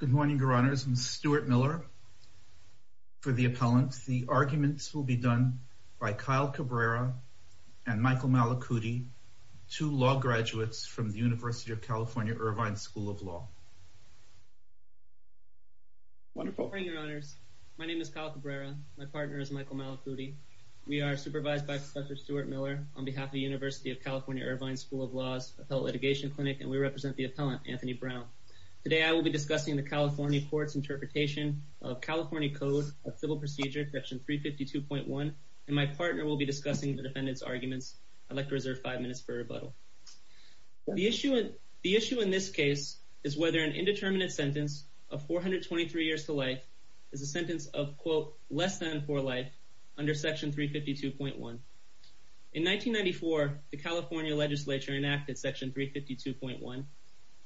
Good morning, Your Honors. I'm Stuart Miller for the appellant. The arguments will be done by Kyle Cabrera and Michael Malacuti, two law graduates from the University of California, Irvine School of Law. Wonderful. Good morning, Your Honors. My name is Kyle Cabrera. My partner is Michael Malacuti. We are supervised by Professor Stuart Miller on behalf of the University of California, Irvine School of Law's Adult Litigation Clinic, and we represent the appellant, Anthony Brown. Today I will be discussing the California court's interpretation of California Code of Civil Procedure, Section 352.1, and my partner will be discussing the defendant's arguments. I'd like to reserve five minutes for rebuttal. The issue in this case is whether an indeterminate sentence of 423 years to life is a sentence of, quote, less than four life under Section 352.1. In 1994, the California legislature enacted Section 352.1,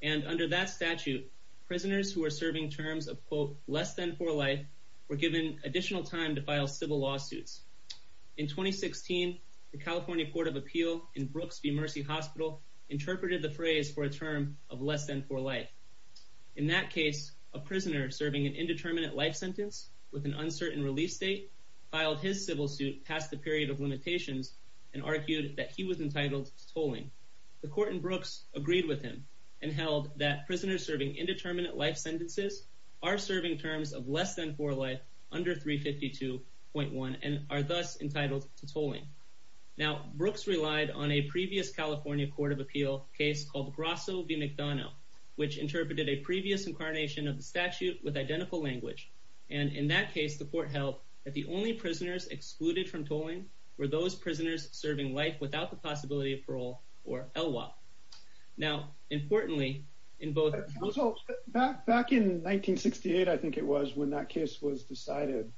and under that statute, prisoners who were serving terms of, quote, less than four life were given additional time to file civil lawsuits. In 2016, the California Court of Appeal in Brooks v. Mercy Hospital interpreted the phrase for a term of less than four life. In that case, a prisoner serving an indeterminate life sentence with an uncertain release date filed his civil suit past the period of limitations and argued that he was entitled to tolling. The court in Brooks agreed with him and held that prisoners serving indeterminate life sentences are serving terms of less than four life under 352.1 and are thus entitled to tolling. Now, Brooks relied on a previous California Court of Appeal case called Grasso v. McDonough, which interpreted a previous incarnation of the statute with identical language. And in that case, the court held that the only prisoners excluded from tolling were those prisoners serving life without the possibility of parole, or ELWA. Now, importantly, in both- Back in 1968, I think it was, when that case was decided,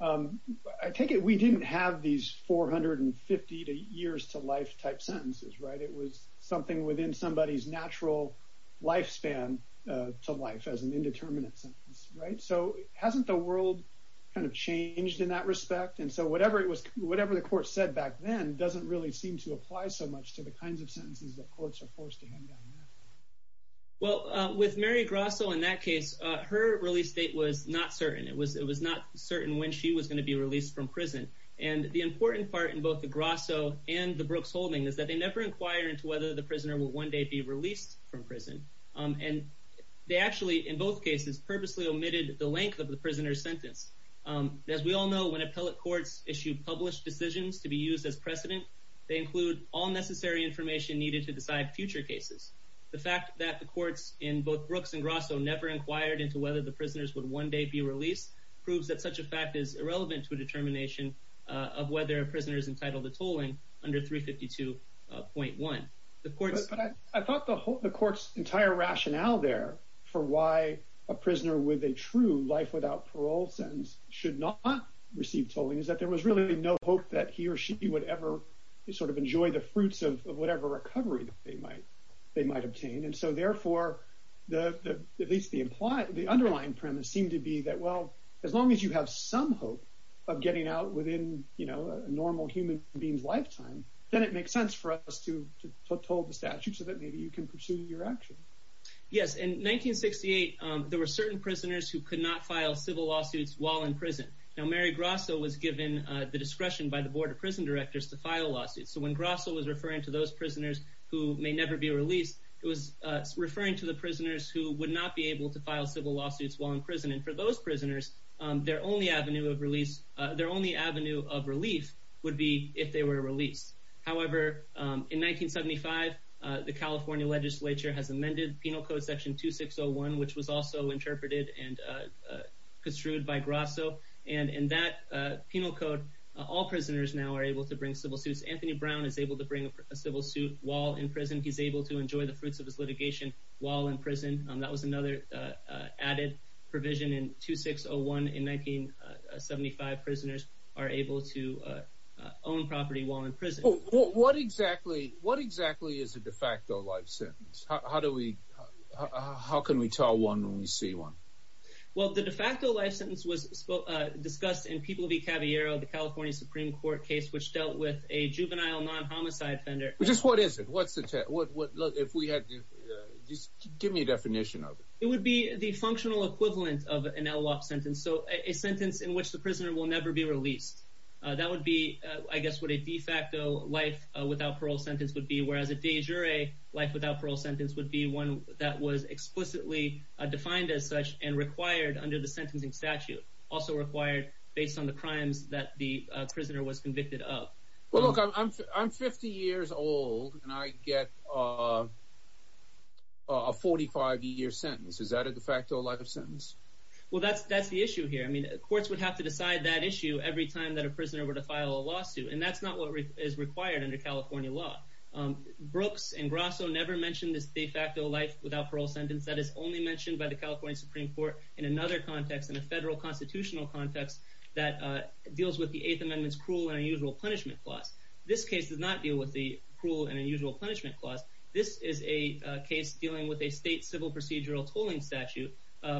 I take it we didn't have these 450 to years to life type sentences, right? It was something within somebody's natural lifespan to life as an indeterminate sentence, right? So hasn't the world kind of changed in that respect? And so whatever the court said back then doesn't really seem to apply so much to the kinds of sentences that courts are forced to hand down now. Well, with Mary Grasso in that case, her release date was not certain. It was not certain when she was going to be released from prison. And the important part in both the Grasso and the Brooks holding is that they never inquired into whether the prisoner would one day be released from prison. And they actually, in both cases, purposely omitted the length of the prisoner's sentence. As we all know, when appellate courts issue published decisions to be used as precedent, they include all necessary information needed to decide future cases. The fact that the courts in both Brooks and Grasso never inquired into whether the prisoners would one day be released proves that such a fact is irrelevant to a determination of whether a prisoner is entitled to tolling under 352.1. I thought the court's entire rationale there for why a prisoner with a true life without parole sentence should not receive tolling is that there was really no hope that he or she would ever sort of enjoy the fruits of whatever recovery they might obtain. And so therefore, at least the underlying premise seemed to be that, well, as long as you have some hope of getting out within a normal human being's lifetime, then it makes sense for us to toll the statute so that maybe you can pursue your action. Yes. In 1968, there were certain prisoners who could not file civil lawsuits while in prison. Now, Mary Grasso was given the discretion by the Board of Prison Directors to file lawsuits. So when Grasso was referring to those prisoners who may never be released, it was referring to the prisoners who would not be able to file civil lawsuits while in prison. And for those prisoners, their only avenue of relief would be if they were released. However, in 1975, the California legislature has amended Penal Code Section 2601, which was also interpreted and construed by Grasso. And in that penal code, all prisoners now are able to bring civil suits. Anthony Brown is able to bring a civil suit while in prison. He's able to enjoy the fruits of his litigation while in prison. That was another added provision in 2601. In 1975, prisoners are able to own property while in prison. What exactly is a de facto life sentence? How can we tell one when we see one? Well, the de facto life sentence was discussed in People v. Caviero, the California Supreme Court case which dealt with a juvenile non-homicide offender. Just what is it? Give me a definition of it. It would be the functional equivalent of an LWOP sentence, so a sentence in which the prisoner will never be released. That would be, I guess, what a de facto life without parole sentence would be, whereas a de jure life without parole sentence would be one that was explicitly defined as such and required under the sentencing statute. Also required based on the crimes that the prisoner was convicted of. Well, look, I'm 50 years old, and I get a 45-year sentence. Is that a de facto life sentence? Well, that's the issue here. I mean, courts would have to decide that issue every time that a prisoner were to file a lawsuit, and that's not what is required under California law. Brooks and Grasso never mentioned this de facto life without parole sentence. That is only mentioned by the California Supreme Court in another context, in a federal constitutional context that deals with the Eighth Amendment's cruel and unusual punishment clause. This case does not deal with the cruel and unusual punishment clause. This is a case dealing with a state civil procedural tolling statute,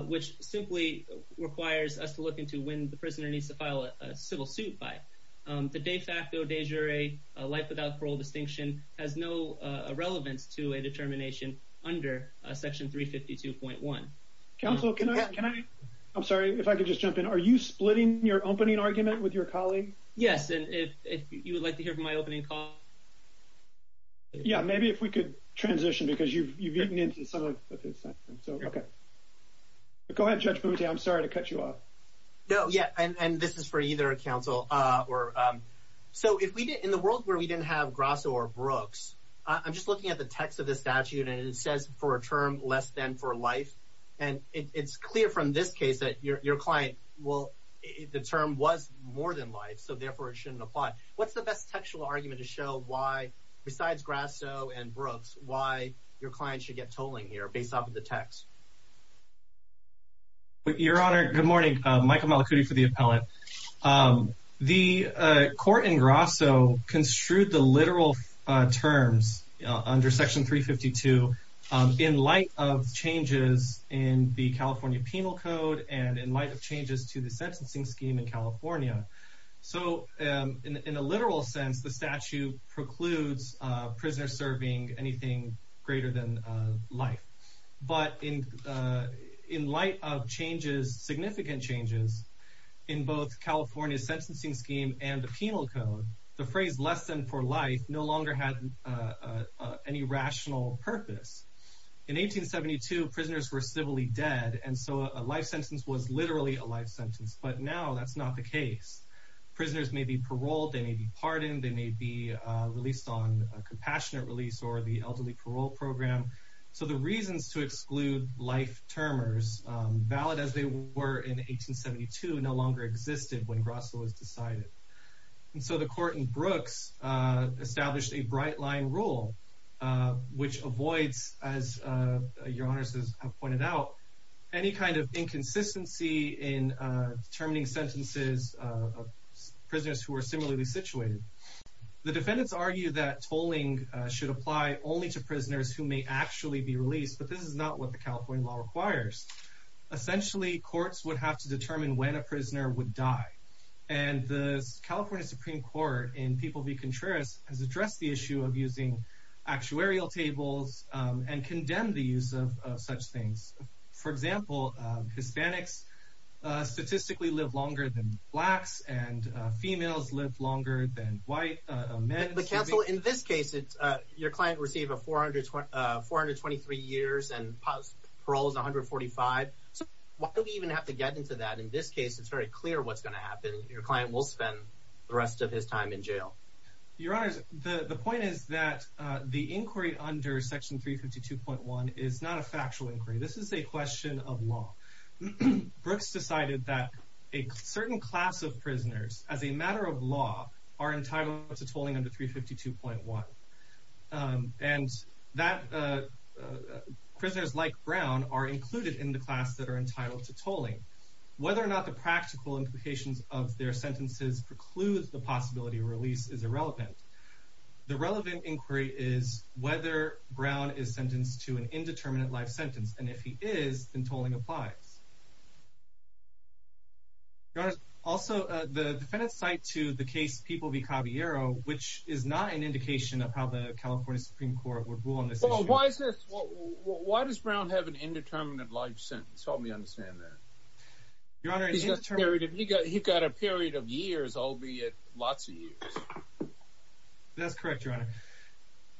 which simply requires us to look into when the prisoner needs to file a civil suit by. The de facto de jure life without parole distinction has no relevance to a determination under Section 352.1. Counsel, can I – I'm sorry, if I could just jump in. Are you splitting your opening argument with your colleague? Yes, and if you would like to hear from my opening comment. Yeah, maybe if we could transition because you've eaten into some of his time. So, okay. Go ahead, Judge Boutier. I'm sorry to cut you off. No, yeah, and this is for either counsel. So in the world where we didn't have Grasso or Brooks, I'm just looking at the text of the statute, and it says for a term less than for life, and it's clear from this case that your client will – the term was more than life, so therefore it shouldn't apply. What's the best textual argument to show why, besides Grasso and Brooks, why your client should get tolling here based off of the text? Your Honor, good morning. Michael Malacuti for the appellant. The court in Grasso construed the literal terms under Section 352 in light of changes in the California Penal Code and in light of changes to the sentencing scheme in California. So in a literal sense, the statute precludes prisoners serving anything greater than life. But in light of changes, significant changes, in both California's sentencing scheme and the penal code, the phrase less than for life no longer had any rational purpose. In 1872, prisoners were civilly dead, and so a life sentence was literally a life sentence. But now that's not the case. Prisoners may be paroled, they may be pardoned, they may be released on a compassionate release or the elderly parole program. So the reasons to exclude life termers, valid as they were in 1872, no longer existed when Grasso was decided. And so the court in Brooks established a bright-line rule, which avoids, as Your Honor has pointed out, any kind of inconsistency in determining sentences of prisoners who are similarly situated. The defendants argue that tolling should apply only to prisoners who may actually be released, but this is not what the California law requires. Essentially, courts would have to determine when a prisoner would die. And the California Supreme Court in People v. Contreras has addressed the issue of using actuarial tables and condemned the use of such things. For example, Hispanics statistically live longer than blacks, and females live longer than men. But counsel, in this case, your client received 423 years and parole is 145. So why do we even have to get into that? In this case, it's very clear what's going to happen. Your client will spend the rest of his time in jail. Your Honor, the point is that the inquiry under Section 352.1 is not a factual inquiry. This is a question of law. Brooks decided that a certain class of prisoners, as a matter of law, are entitled to tolling under 352.1. And that prisoners like Brown are included in the class that are entitled to tolling. Whether or not the practical implications of their sentences preclude the possibility of release is irrelevant. The relevant inquiry is whether Brown is sentenced to an indeterminate life sentence. And if he is, then tolling applies. Your Honor, also, the defendants cite to the case People v. Caballero, which is not an indication of how the California Supreme Court would rule on this issue. Why does Brown have an indeterminate life sentence? Help me understand that. He's got a period of years, albeit lots of years. That's correct, Your Honor.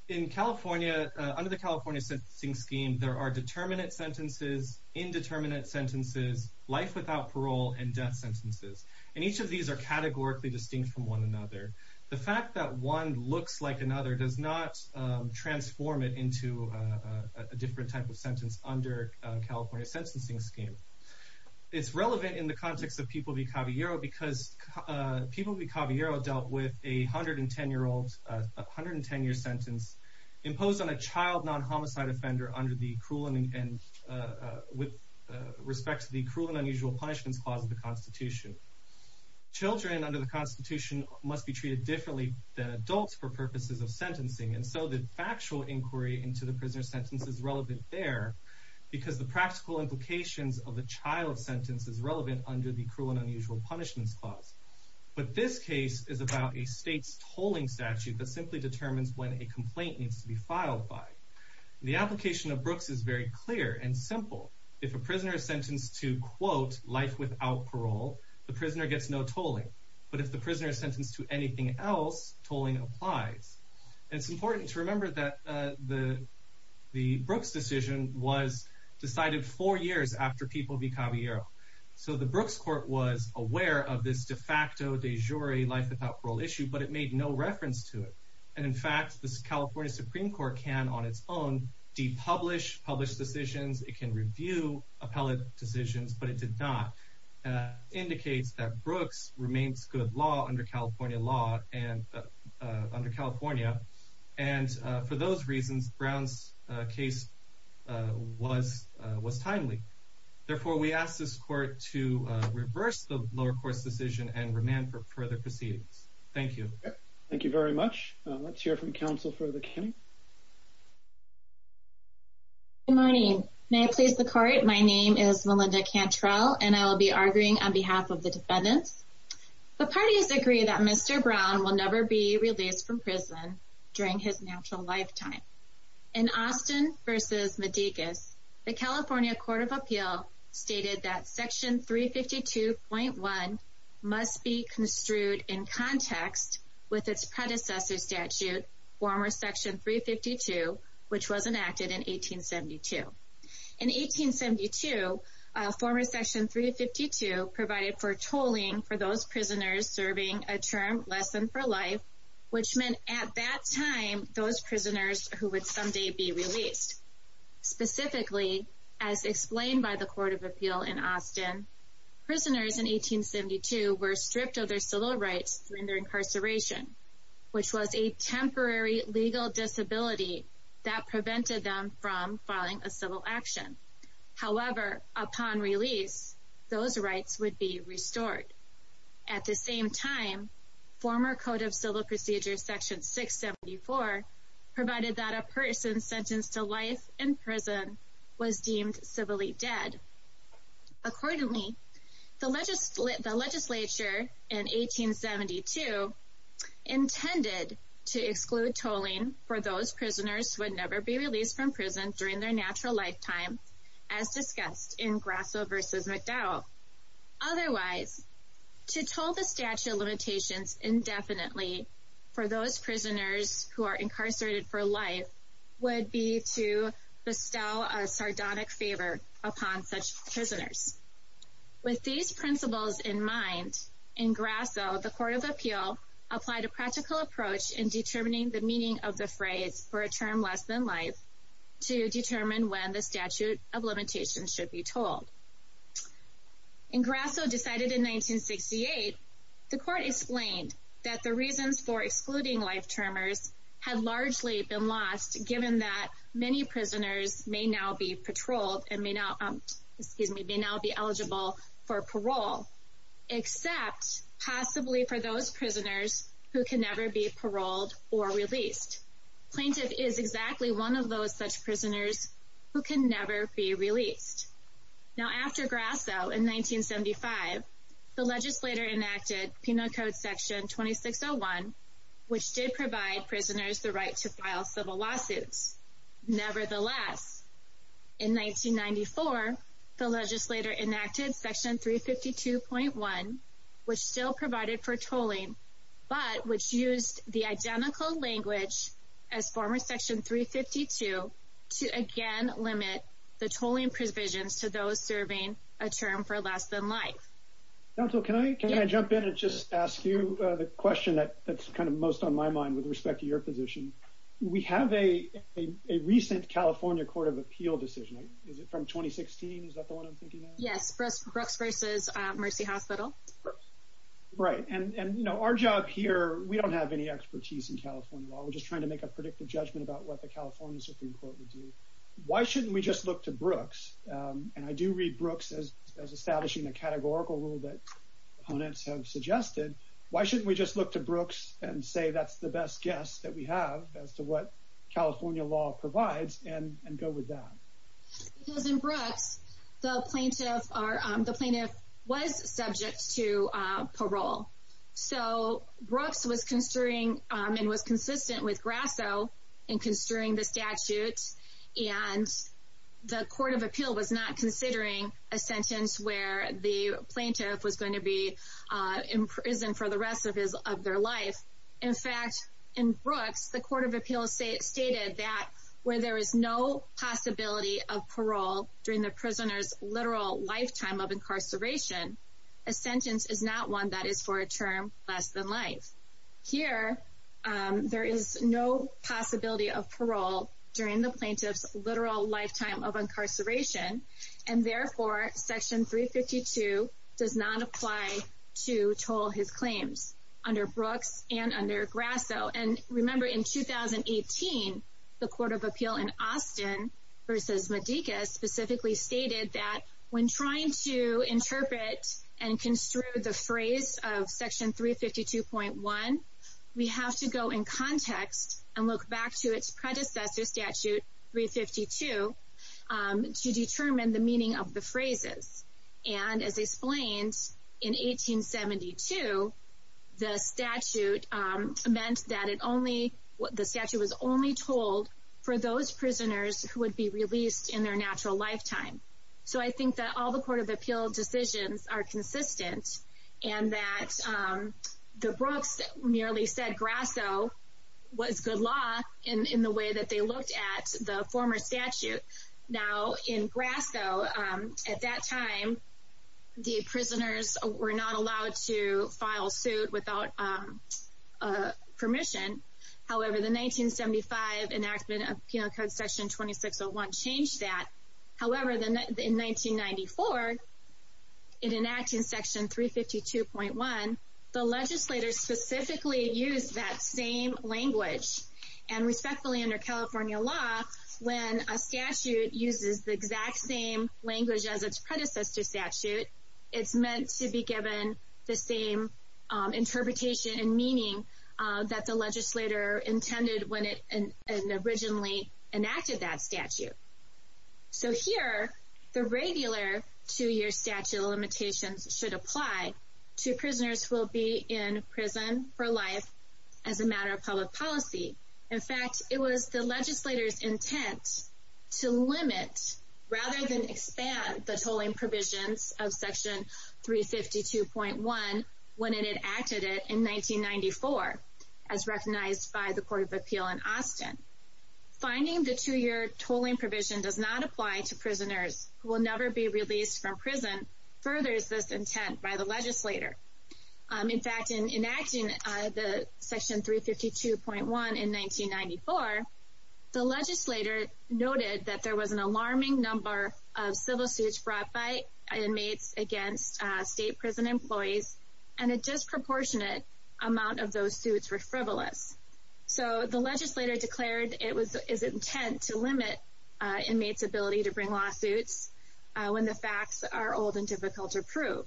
In California, under the California Sentencing Scheme, there are determinate sentences, indeterminate sentences, life without parole, and death sentences. And each of these are categorically distinct from one another. The fact that one looks like another does not transform it into a different type of sentence under California Sentencing Scheme. It's relevant in the context of People v. Caballero because People v. Caballero dealt with a 110-year sentence imposed on a child non-homicide offender with respect to the cruel and unusual punishments clause of the Constitution. Children under the Constitution must be treated differently than adults for purposes of sentencing. And so the factual inquiry into the prisoner's sentence is relevant there because the practical implications of the child sentence is relevant under the cruel and unusual punishments clause. But this case is about a state's tolling statute that simply determines when a complaint needs to be filed by. The application of Brooks is very clear and simple. If a prisoner is sentenced to, quote, life without parole, the prisoner gets no tolling. But if the prisoner is sentenced to anything else, tolling applies. And it's important to remember that the Brooks decision was decided four years after People v. Caballero. So the Brooks Court was aware of this de facto de jure life without parole issue, but it made no reference to it. And, in fact, the California Supreme Court can, on its own, depublish published decisions. It can review appellate decisions, but it did not. And it indicates that Brooks remains good law under California law and under California. And for those reasons, Brown's case was timely. Therefore, we ask this court to reverse the lower court's decision and remand for further proceedings. Thank you. Thank you very much. Let's hear from counsel for the committee. Good morning. May I please the court? My name is Melinda Cantrell, and I will be arguing on behalf of the defendants. The parties agree that Mr. Brown will never be released from prison during his natural lifetime. In Austin v. Medicus, the California Court of Appeal stated that Section 352.1 must be construed in context with its predecessor statute, former Section 352, which was enacted in 1872. In 1872, former Section 352 provided for tolling for those prisoners serving a term less than for life, which meant at that time those prisoners who would someday be released. Specifically, as explained by the Court of Appeal in Austin, prisoners in 1872 were stripped of their civil rights during their incarceration, which was a temporary legal disability that prevented them from filing a civil action. However, upon release, those rights would be restored. At the same time, former Code of Civil Procedures Section 674 provided that a person sentenced to life in prison was deemed civilly dead. Accordingly, the legislature in 1872 intended to exclude tolling for those prisoners who would never be released from prison during their natural lifetime, as discussed in Grasso v. McDowell. Otherwise, to toll the statute of limitations indefinitely for those prisoners who are incarcerated for life would be to bestow a sardonic favor upon such prisoners. With these principles in mind, in Grasso, the Court of Appeal applied a practical approach in determining the meaning of the phrase for a term less than life to determine when the statute of limitations should be tolled. In Grasso, decided in 1968, the Court explained that the reasons for excluding life-termers had largely been lost given that many prisoners may now be The plaintiff is exactly one of those such prisoners who can never be released. After Grasso, in 1975, the legislature enacted Penal Code Section 2601, which did provide prisoners the right to file civil lawsuits. Nevertheless, in 1994, the legislature enacted Section 352.1, which still provided for tolling, but which used the identical language as former Section 352 to again limit the tolling provisions to those serving a term for less than life. Can I jump in and just ask you the question that's kind of most on my mind with respect to your position? We have a recent California Court of Appeal decision. Is it from 2016? Is that the one I'm thinking of? Yes. Brooks v. Mercy Hospital. Right. And, you know, our job here, we don't have any expertise in California law. We're just trying to make a predictive judgment about what the California Supreme Court would do. Why shouldn't we just look to Brooks? And I do read Brooks as establishing a categorical rule that opponents have suggested. Why shouldn't we just look to Brooks and say that's the best guess that we have as to what California law provides and go with that? Because in Brooks, the plaintiff was subject to parole. So Brooks was considering and was consistent with Grasso in considering the statute. And the Court of Appeal was not considering a sentence where the plaintiff was going to be in prison for the rest of their life. In fact, in Brooks, the Court of Appeal stated that where there is no possibility of parole during the prisoner's literal lifetime of incarceration, a sentence is not one that is for a term less than life. Here, there is no possibility of parole during the plaintiff's literal lifetime of incarceration. And therefore, Section 352 does not apply to toll his claims under Brooks and under Grasso. And remember, in 2018, the Court of Appeal in Austin versus Medica specifically stated that when trying to interpret and construe the phrase of Section 352.1, we have to go in context and look back to its predecessor statute, 352, to determine the meaning of the phrases. And as explained, in 1872, the statute was only told for those prisoners who would be released in their natural lifetime. So I think that all the Court of Appeal decisions are consistent and that the Brooks merely said Grasso was good law in the way that they looked at the former statute. Now, in Grasso, at that time, the prisoners were not allowed to file suit without permission. However, the 1975 enactment of Penal Code Section 2601 changed that. However, in 1994, in enacting Section 352.1, the legislators specifically used that same language. And respectfully, under California law, when a statute uses the exact same language as its predecessor statute, it's meant to be given the same interpretation and meaning that the legislator intended when it originally enacted that statute. So here, the regular two-year statute limitations should apply to prisoners who will be in prison for life as a matter of public policy. In fact, it was the legislator's intent to limit rather than expand the tolling provisions of Section 352.1 when it enacted it in 1994, as recognized by the Court of Appeal in Austin. Finding the two-year tolling provision does not apply to prisoners who will never be released from prison furthers this intent by the legislator. In fact, in enacting Section 352.1 in 1994, the legislator noted that there was an alarming number of civil suits brought by inmates against state prison employees, and a disproportionate amount of those suits were frivolous. So the legislator declared it was his intent to limit inmates' ability to bring lawsuits when the facts are old and difficult to prove.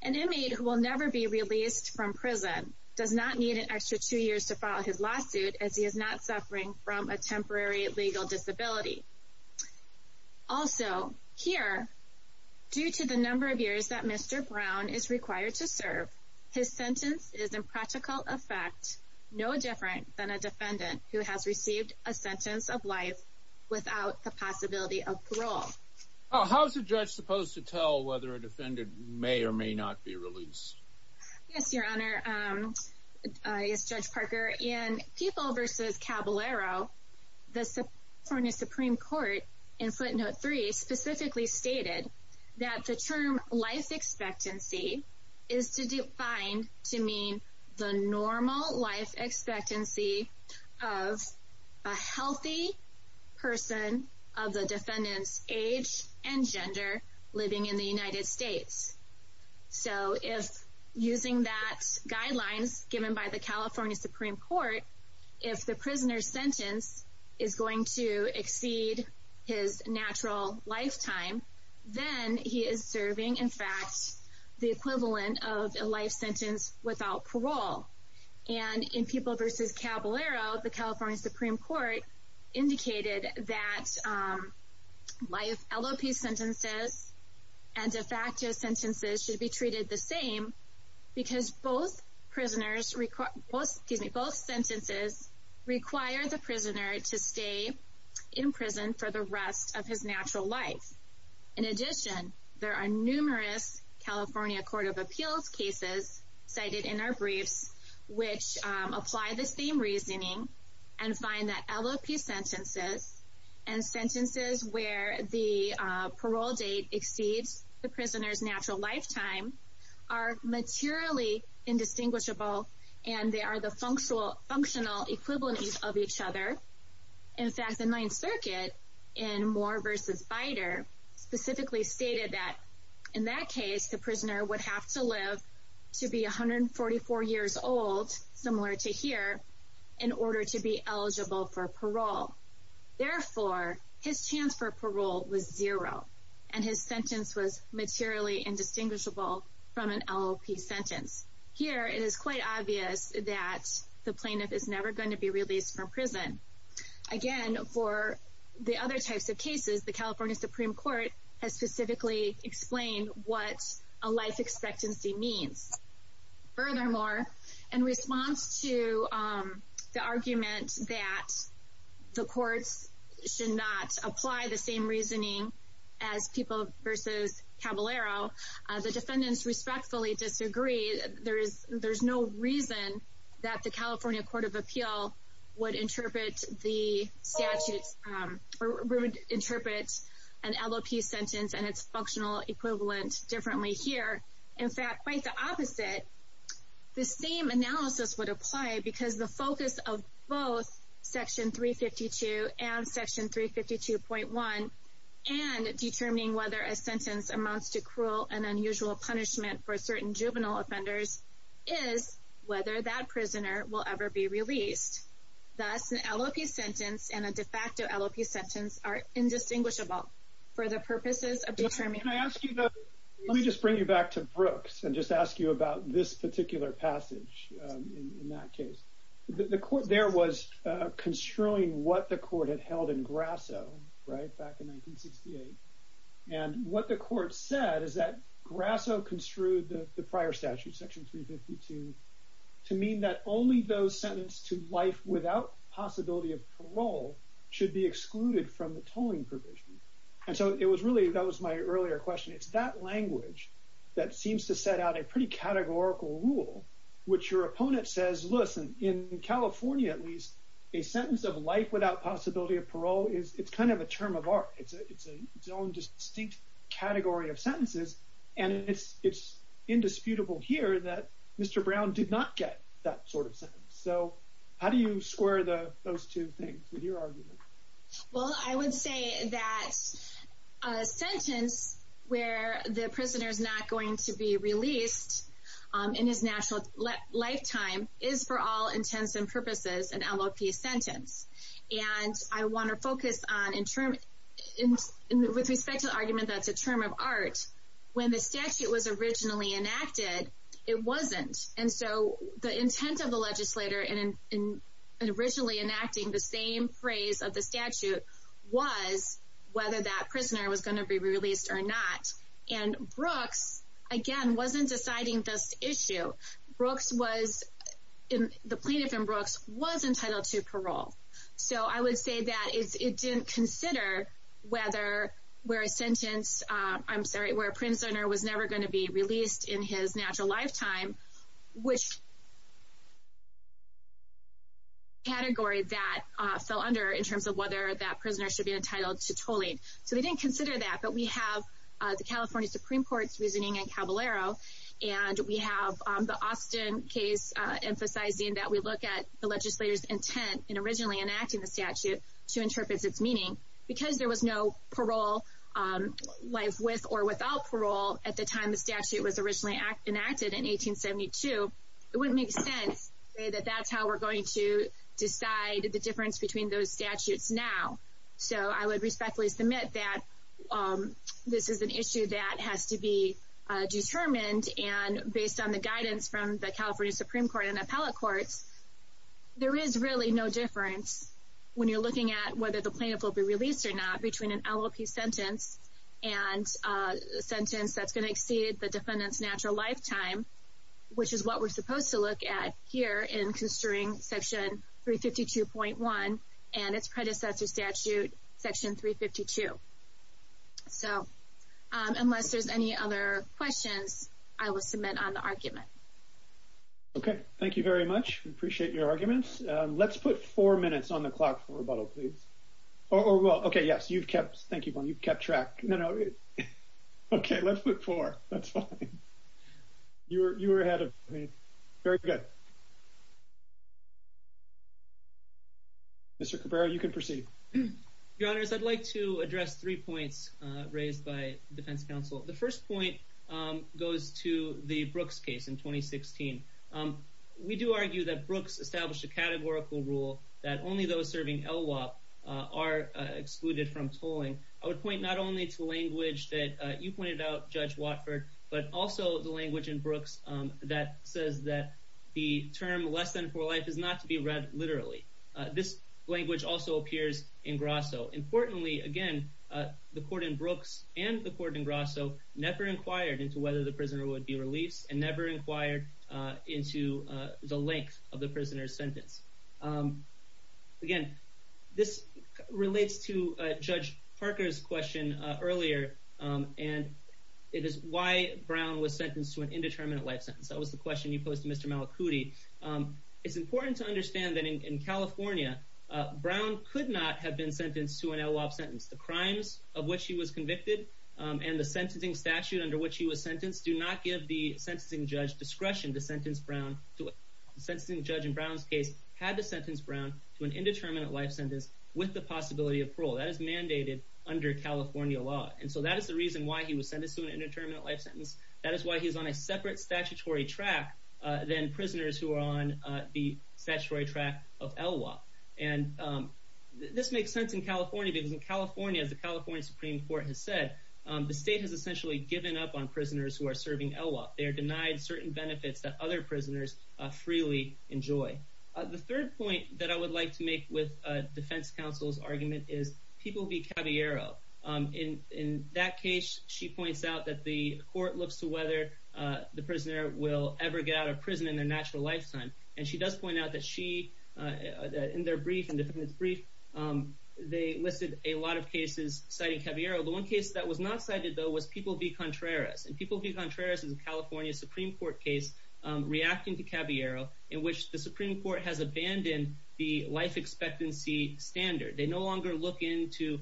An inmate who will never be released from prison does not need an extra two years to file his lawsuit as he is not suffering from a temporary legal disability. Also, here, due to the number of years that Mr. Brown is required to serve, his sentence is in practical effect no different than a defendant who has received a sentence of life without the possibility of parole. How is a judge supposed to tell whether a defendant may or may not be released? Yes, Your Honor, Judge Parker. In People v. Caballero, the California Supreme Court in footnote 3 specifically stated that the term life expectancy is defined to mean the normal life expectancy of a healthy person of the defendant's age and gender living in the United States. So if using that guidelines given by the California Supreme Court, if the prisoner's sentence is going to exceed his natural lifetime, then he is serving, in fact, the equivalent of a life sentence without parole. And in People v. Caballero, the California Supreme Court indicated that life LOP sentences and de facto sentences should be treated the same because both sentences require the prisoner to stay in prison for the rest of his natural life. In addition, there are numerous California Court of Appeals cases cited in our briefs which apply the same reasoning and find that LOP sentences and sentences where the parole date exceeds the prisoner's natural lifetime are materially indistinguishable and they are the functional equivalents of each other. In fact, the Ninth Circuit in Moore v. Bider specifically stated that in that case, the prisoner would have to live to be 144 years old, similar to here, in order to be eligible for parole. Therefore, his chance for parole was zero and his sentence was materially indistinguishable from an LOP sentence. Here, it is quite obvious that the plaintiff is never going to be released from prison. Again, for the other types of cases, the California Supreme Court has specifically explained what a life expectancy means. Furthermore, in response to the argument that the courts should not apply the same reasoning as People v. Caballero, the defendants respectfully disagree. There is no reason that the California Court of Appeal would interpret an LOP sentence and its functional equivalent differently here. In fact, quite the opposite, the same analysis would apply because the focus of both Section 352 and Section 352.1 and determining whether a sentence amounts to cruel and unusual punishment for certain juvenile offenders is whether that prisoner will ever be released. Thus, an LOP sentence and a de facto LOP sentence are indistinguishable for the purposes of determining... Let me just bring you back to Brooks and just ask you about this particular passage in that case. The court there was construing what the court had held in Grasso, right, back in 1968. And what the court said is that Grasso construed the prior statute, Section 352, to mean that only those sentenced to life without possibility of parole should be excluded from the tolling provision. And so it was really, that was my earlier question, it's that language that seems to set out a pretty categorical rule, which your opponent says, listen, in California at least, a sentence of life without possibility of parole is kind of a term of art. It's its own distinct category of sentences, and it's indisputable here that Mr. Brown did not get that sort of sentence. So how do you square those two things with your argument? Well, I would say that a sentence where the prisoner is not going to be released in his natural lifetime is, for all intents and purposes, an LOP sentence. And I want to focus on, with respect to the argument that it's a term of art, when the statute was originally enacted, it wasn't. And so the intent of the legislator in originally enacting the same phrase of the statute was whether that prisoner was going to be released or not. And Brooks, again, wasn't deciding this issue. Brooks was, the plaintiff in Brooks was entitled to parole. So I would say that it didn't consider whether, where a sentence, I'm sorry, where a prisoner was never going to be released in his natural lifetime, which is a category that fell under in terms of whether that prisoner should be entitled to tolling. So they didn't consider that, but we have the California Supreme Court's reasoning in Caballero, and we have the Austin case emphasizing that we look at the legislator's intent in originally enacting the statute to interpret its meaning. Because there was no parole, life with or without parole, at the time the statute was originally enacted in 1872, it wouldn't make sense to say that that's how we're going to decide the difference between those statutes now. So I would respectfully submit that this is an issue that has to be determined. And based on the guidance from the California Supreme Court and appellate courts, there is really no difference when you're looking at whether the plaintiff will be released or not between an LLP sentence and a sentence that's going to exceed the defendant's natural lifetime, which is what we're supposed to look at here in considering Section 352.1 and its predecessor statute, Section 352. So, unless there's any other questions, I will submit on the argument. Okay, thank you very much. We appreciate your arguments. Let's put four minutes on the clock for rebuttal, please. Okay, yes, you've kept track. No, no. Okay, let's put four. That's fine. You were ahead of me. Very good. Mr. Cabrera, you can proceed. Your Honors, I'd like to address three points raised by defense counsel. The first point goes to the Brooks case in 2016. We do argue that Brooks established a categorical rule that only those serving LWOP are excluded from tolling. I would point not only to language that you pointed out, Judge Watford, but also the language in Brooks that says that the term less than for life is not to be read literally. This language also appears in Grasso. Importantly, again, the court in Brooks and the court in Grasso never inquired into whether the prisoner would be released and never inquired into the length of the prisoner's sentence. Again, this relates to Judge Parker's question earlier, and it is why Brown was sentenced to an indeterminate life sentence. That was the question you posed to Mr. Malakouti. It's important to understand that in California, Brown could not have been sentenced to an LWOP sentence. The crimes of which he was convicted and the sentencing statute under which he was sentenced do not give the sentencing judge discretion to sentence Brown. The sentencing judge in Brown's case had to sentence Brown to an indeterminate life sentence with the possibility of parole. That is mandated under California law, and so that is the reason why he was sentenced to an indeterminate life sentence. That is why he is on a separate statutory track than prisoners who are on the statutory track of LWOP. And this makes sense in California because in California, as the California Supreme Court has said, the state has essentially given up on prisoners who are serving LWOP. They are denied certain benefits that other prisoners freely enjoy. The third point that I would like to make with defense counsel's argument is people be caviaro. In that case, she points out that the court looks to whether the prisoner will ever get out of prison in their natural lifetime. And she does point out that she, in their brief, they listed a lot of cases citing caviaro. The one case that was not cited, though, was People v. Contreras. And People v. Contreras is a California Supreme Court case reacting to caviaro in which the Supreme Court has abandoned the life expectancy standard. They no longer look into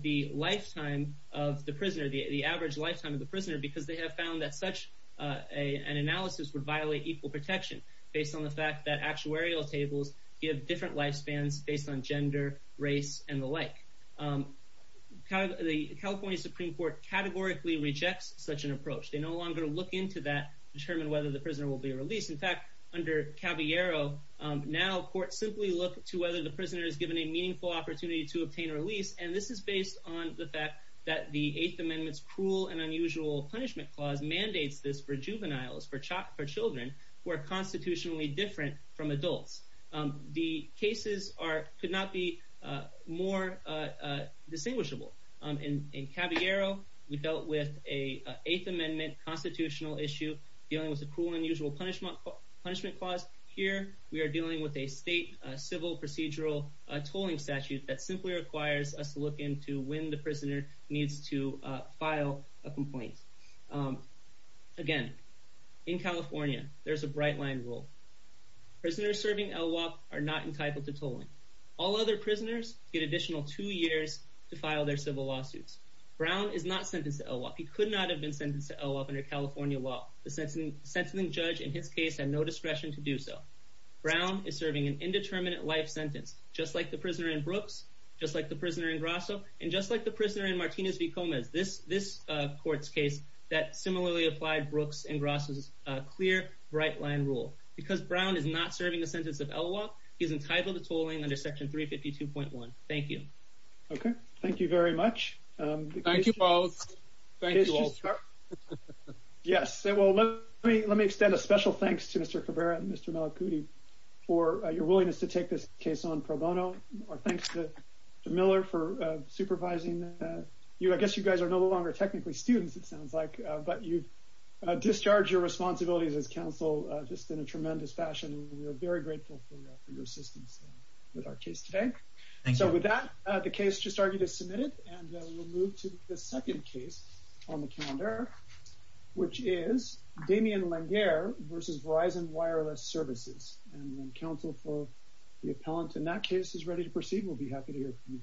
the lifetime of the prisoner, the average lifetime of the prisoner, because they have found that such an analysis would violate equal protection based on the fact that actuarial tables give different lifespans based on gender, race, and the like. The California Supreme Court categorically rejects such an approach. They no longer look into that to determine whether the prisoner will be released. In fact, under caviaro, now courts simply look to whether the prisoner is given a meaningful opportunity to obtain a release. And this is based on the fact that the Eighth Amendment's Cruel and Unusual Punishment Clause mandates this for juveniles, for children, who are constitutionally different from adults. The cases could not be more distinguishable. In caviaro, we dealt with an Eighth Amendment constitutional issue dealing with the Cruel and Unusual Punishment Clause. Here, we are dealing with a state civil procedural tolling statute that simply requires us to look into when the prisoner needs to file a complaint. Again, in California, there's a bright line rule. Prisoners serving LWOP are not entitled to tolling. All other prisoners get additional two years to file their civil lawsuits. Brown is not sentenced to LWOP. He could not have been sentenced to LWOP under California law. The sentencing judge, in his case, had no discretion to do so. Brown is serving an indeterminate life sentence, just like the prisoner in Brooks, just like the prisoner in Grasso, and just like the prisoner in Martinez v. Gomez. This court's case similarly applied Brooks and Grasso's clear, bright line rule. Because Brown is not serving a sentence of LWOP, he is entitled to tolling under Section 352.1. Thank you. Okay, thank you very much. Thank you, Paul. Yes, well, let me extend a special thanks to Mr. Cabrera and Mr. Malakouti for your willingness to take this case on pro bono. Our thanks to Mr. Miller for supervising. I guess you guys are no longer technically students, it sounds like, but you've discharged your responsibilities as counsel just in a tremendous fashion. We are very grateful for your assistance with our case today. So with that, the case just argued is submitted, and we'll move to the second case on the calendar, which is Damien Langaire v. Verizon Wireless Services. And when counsel for the appellant in that case is ready to proceed, we'll be happy to hear from you.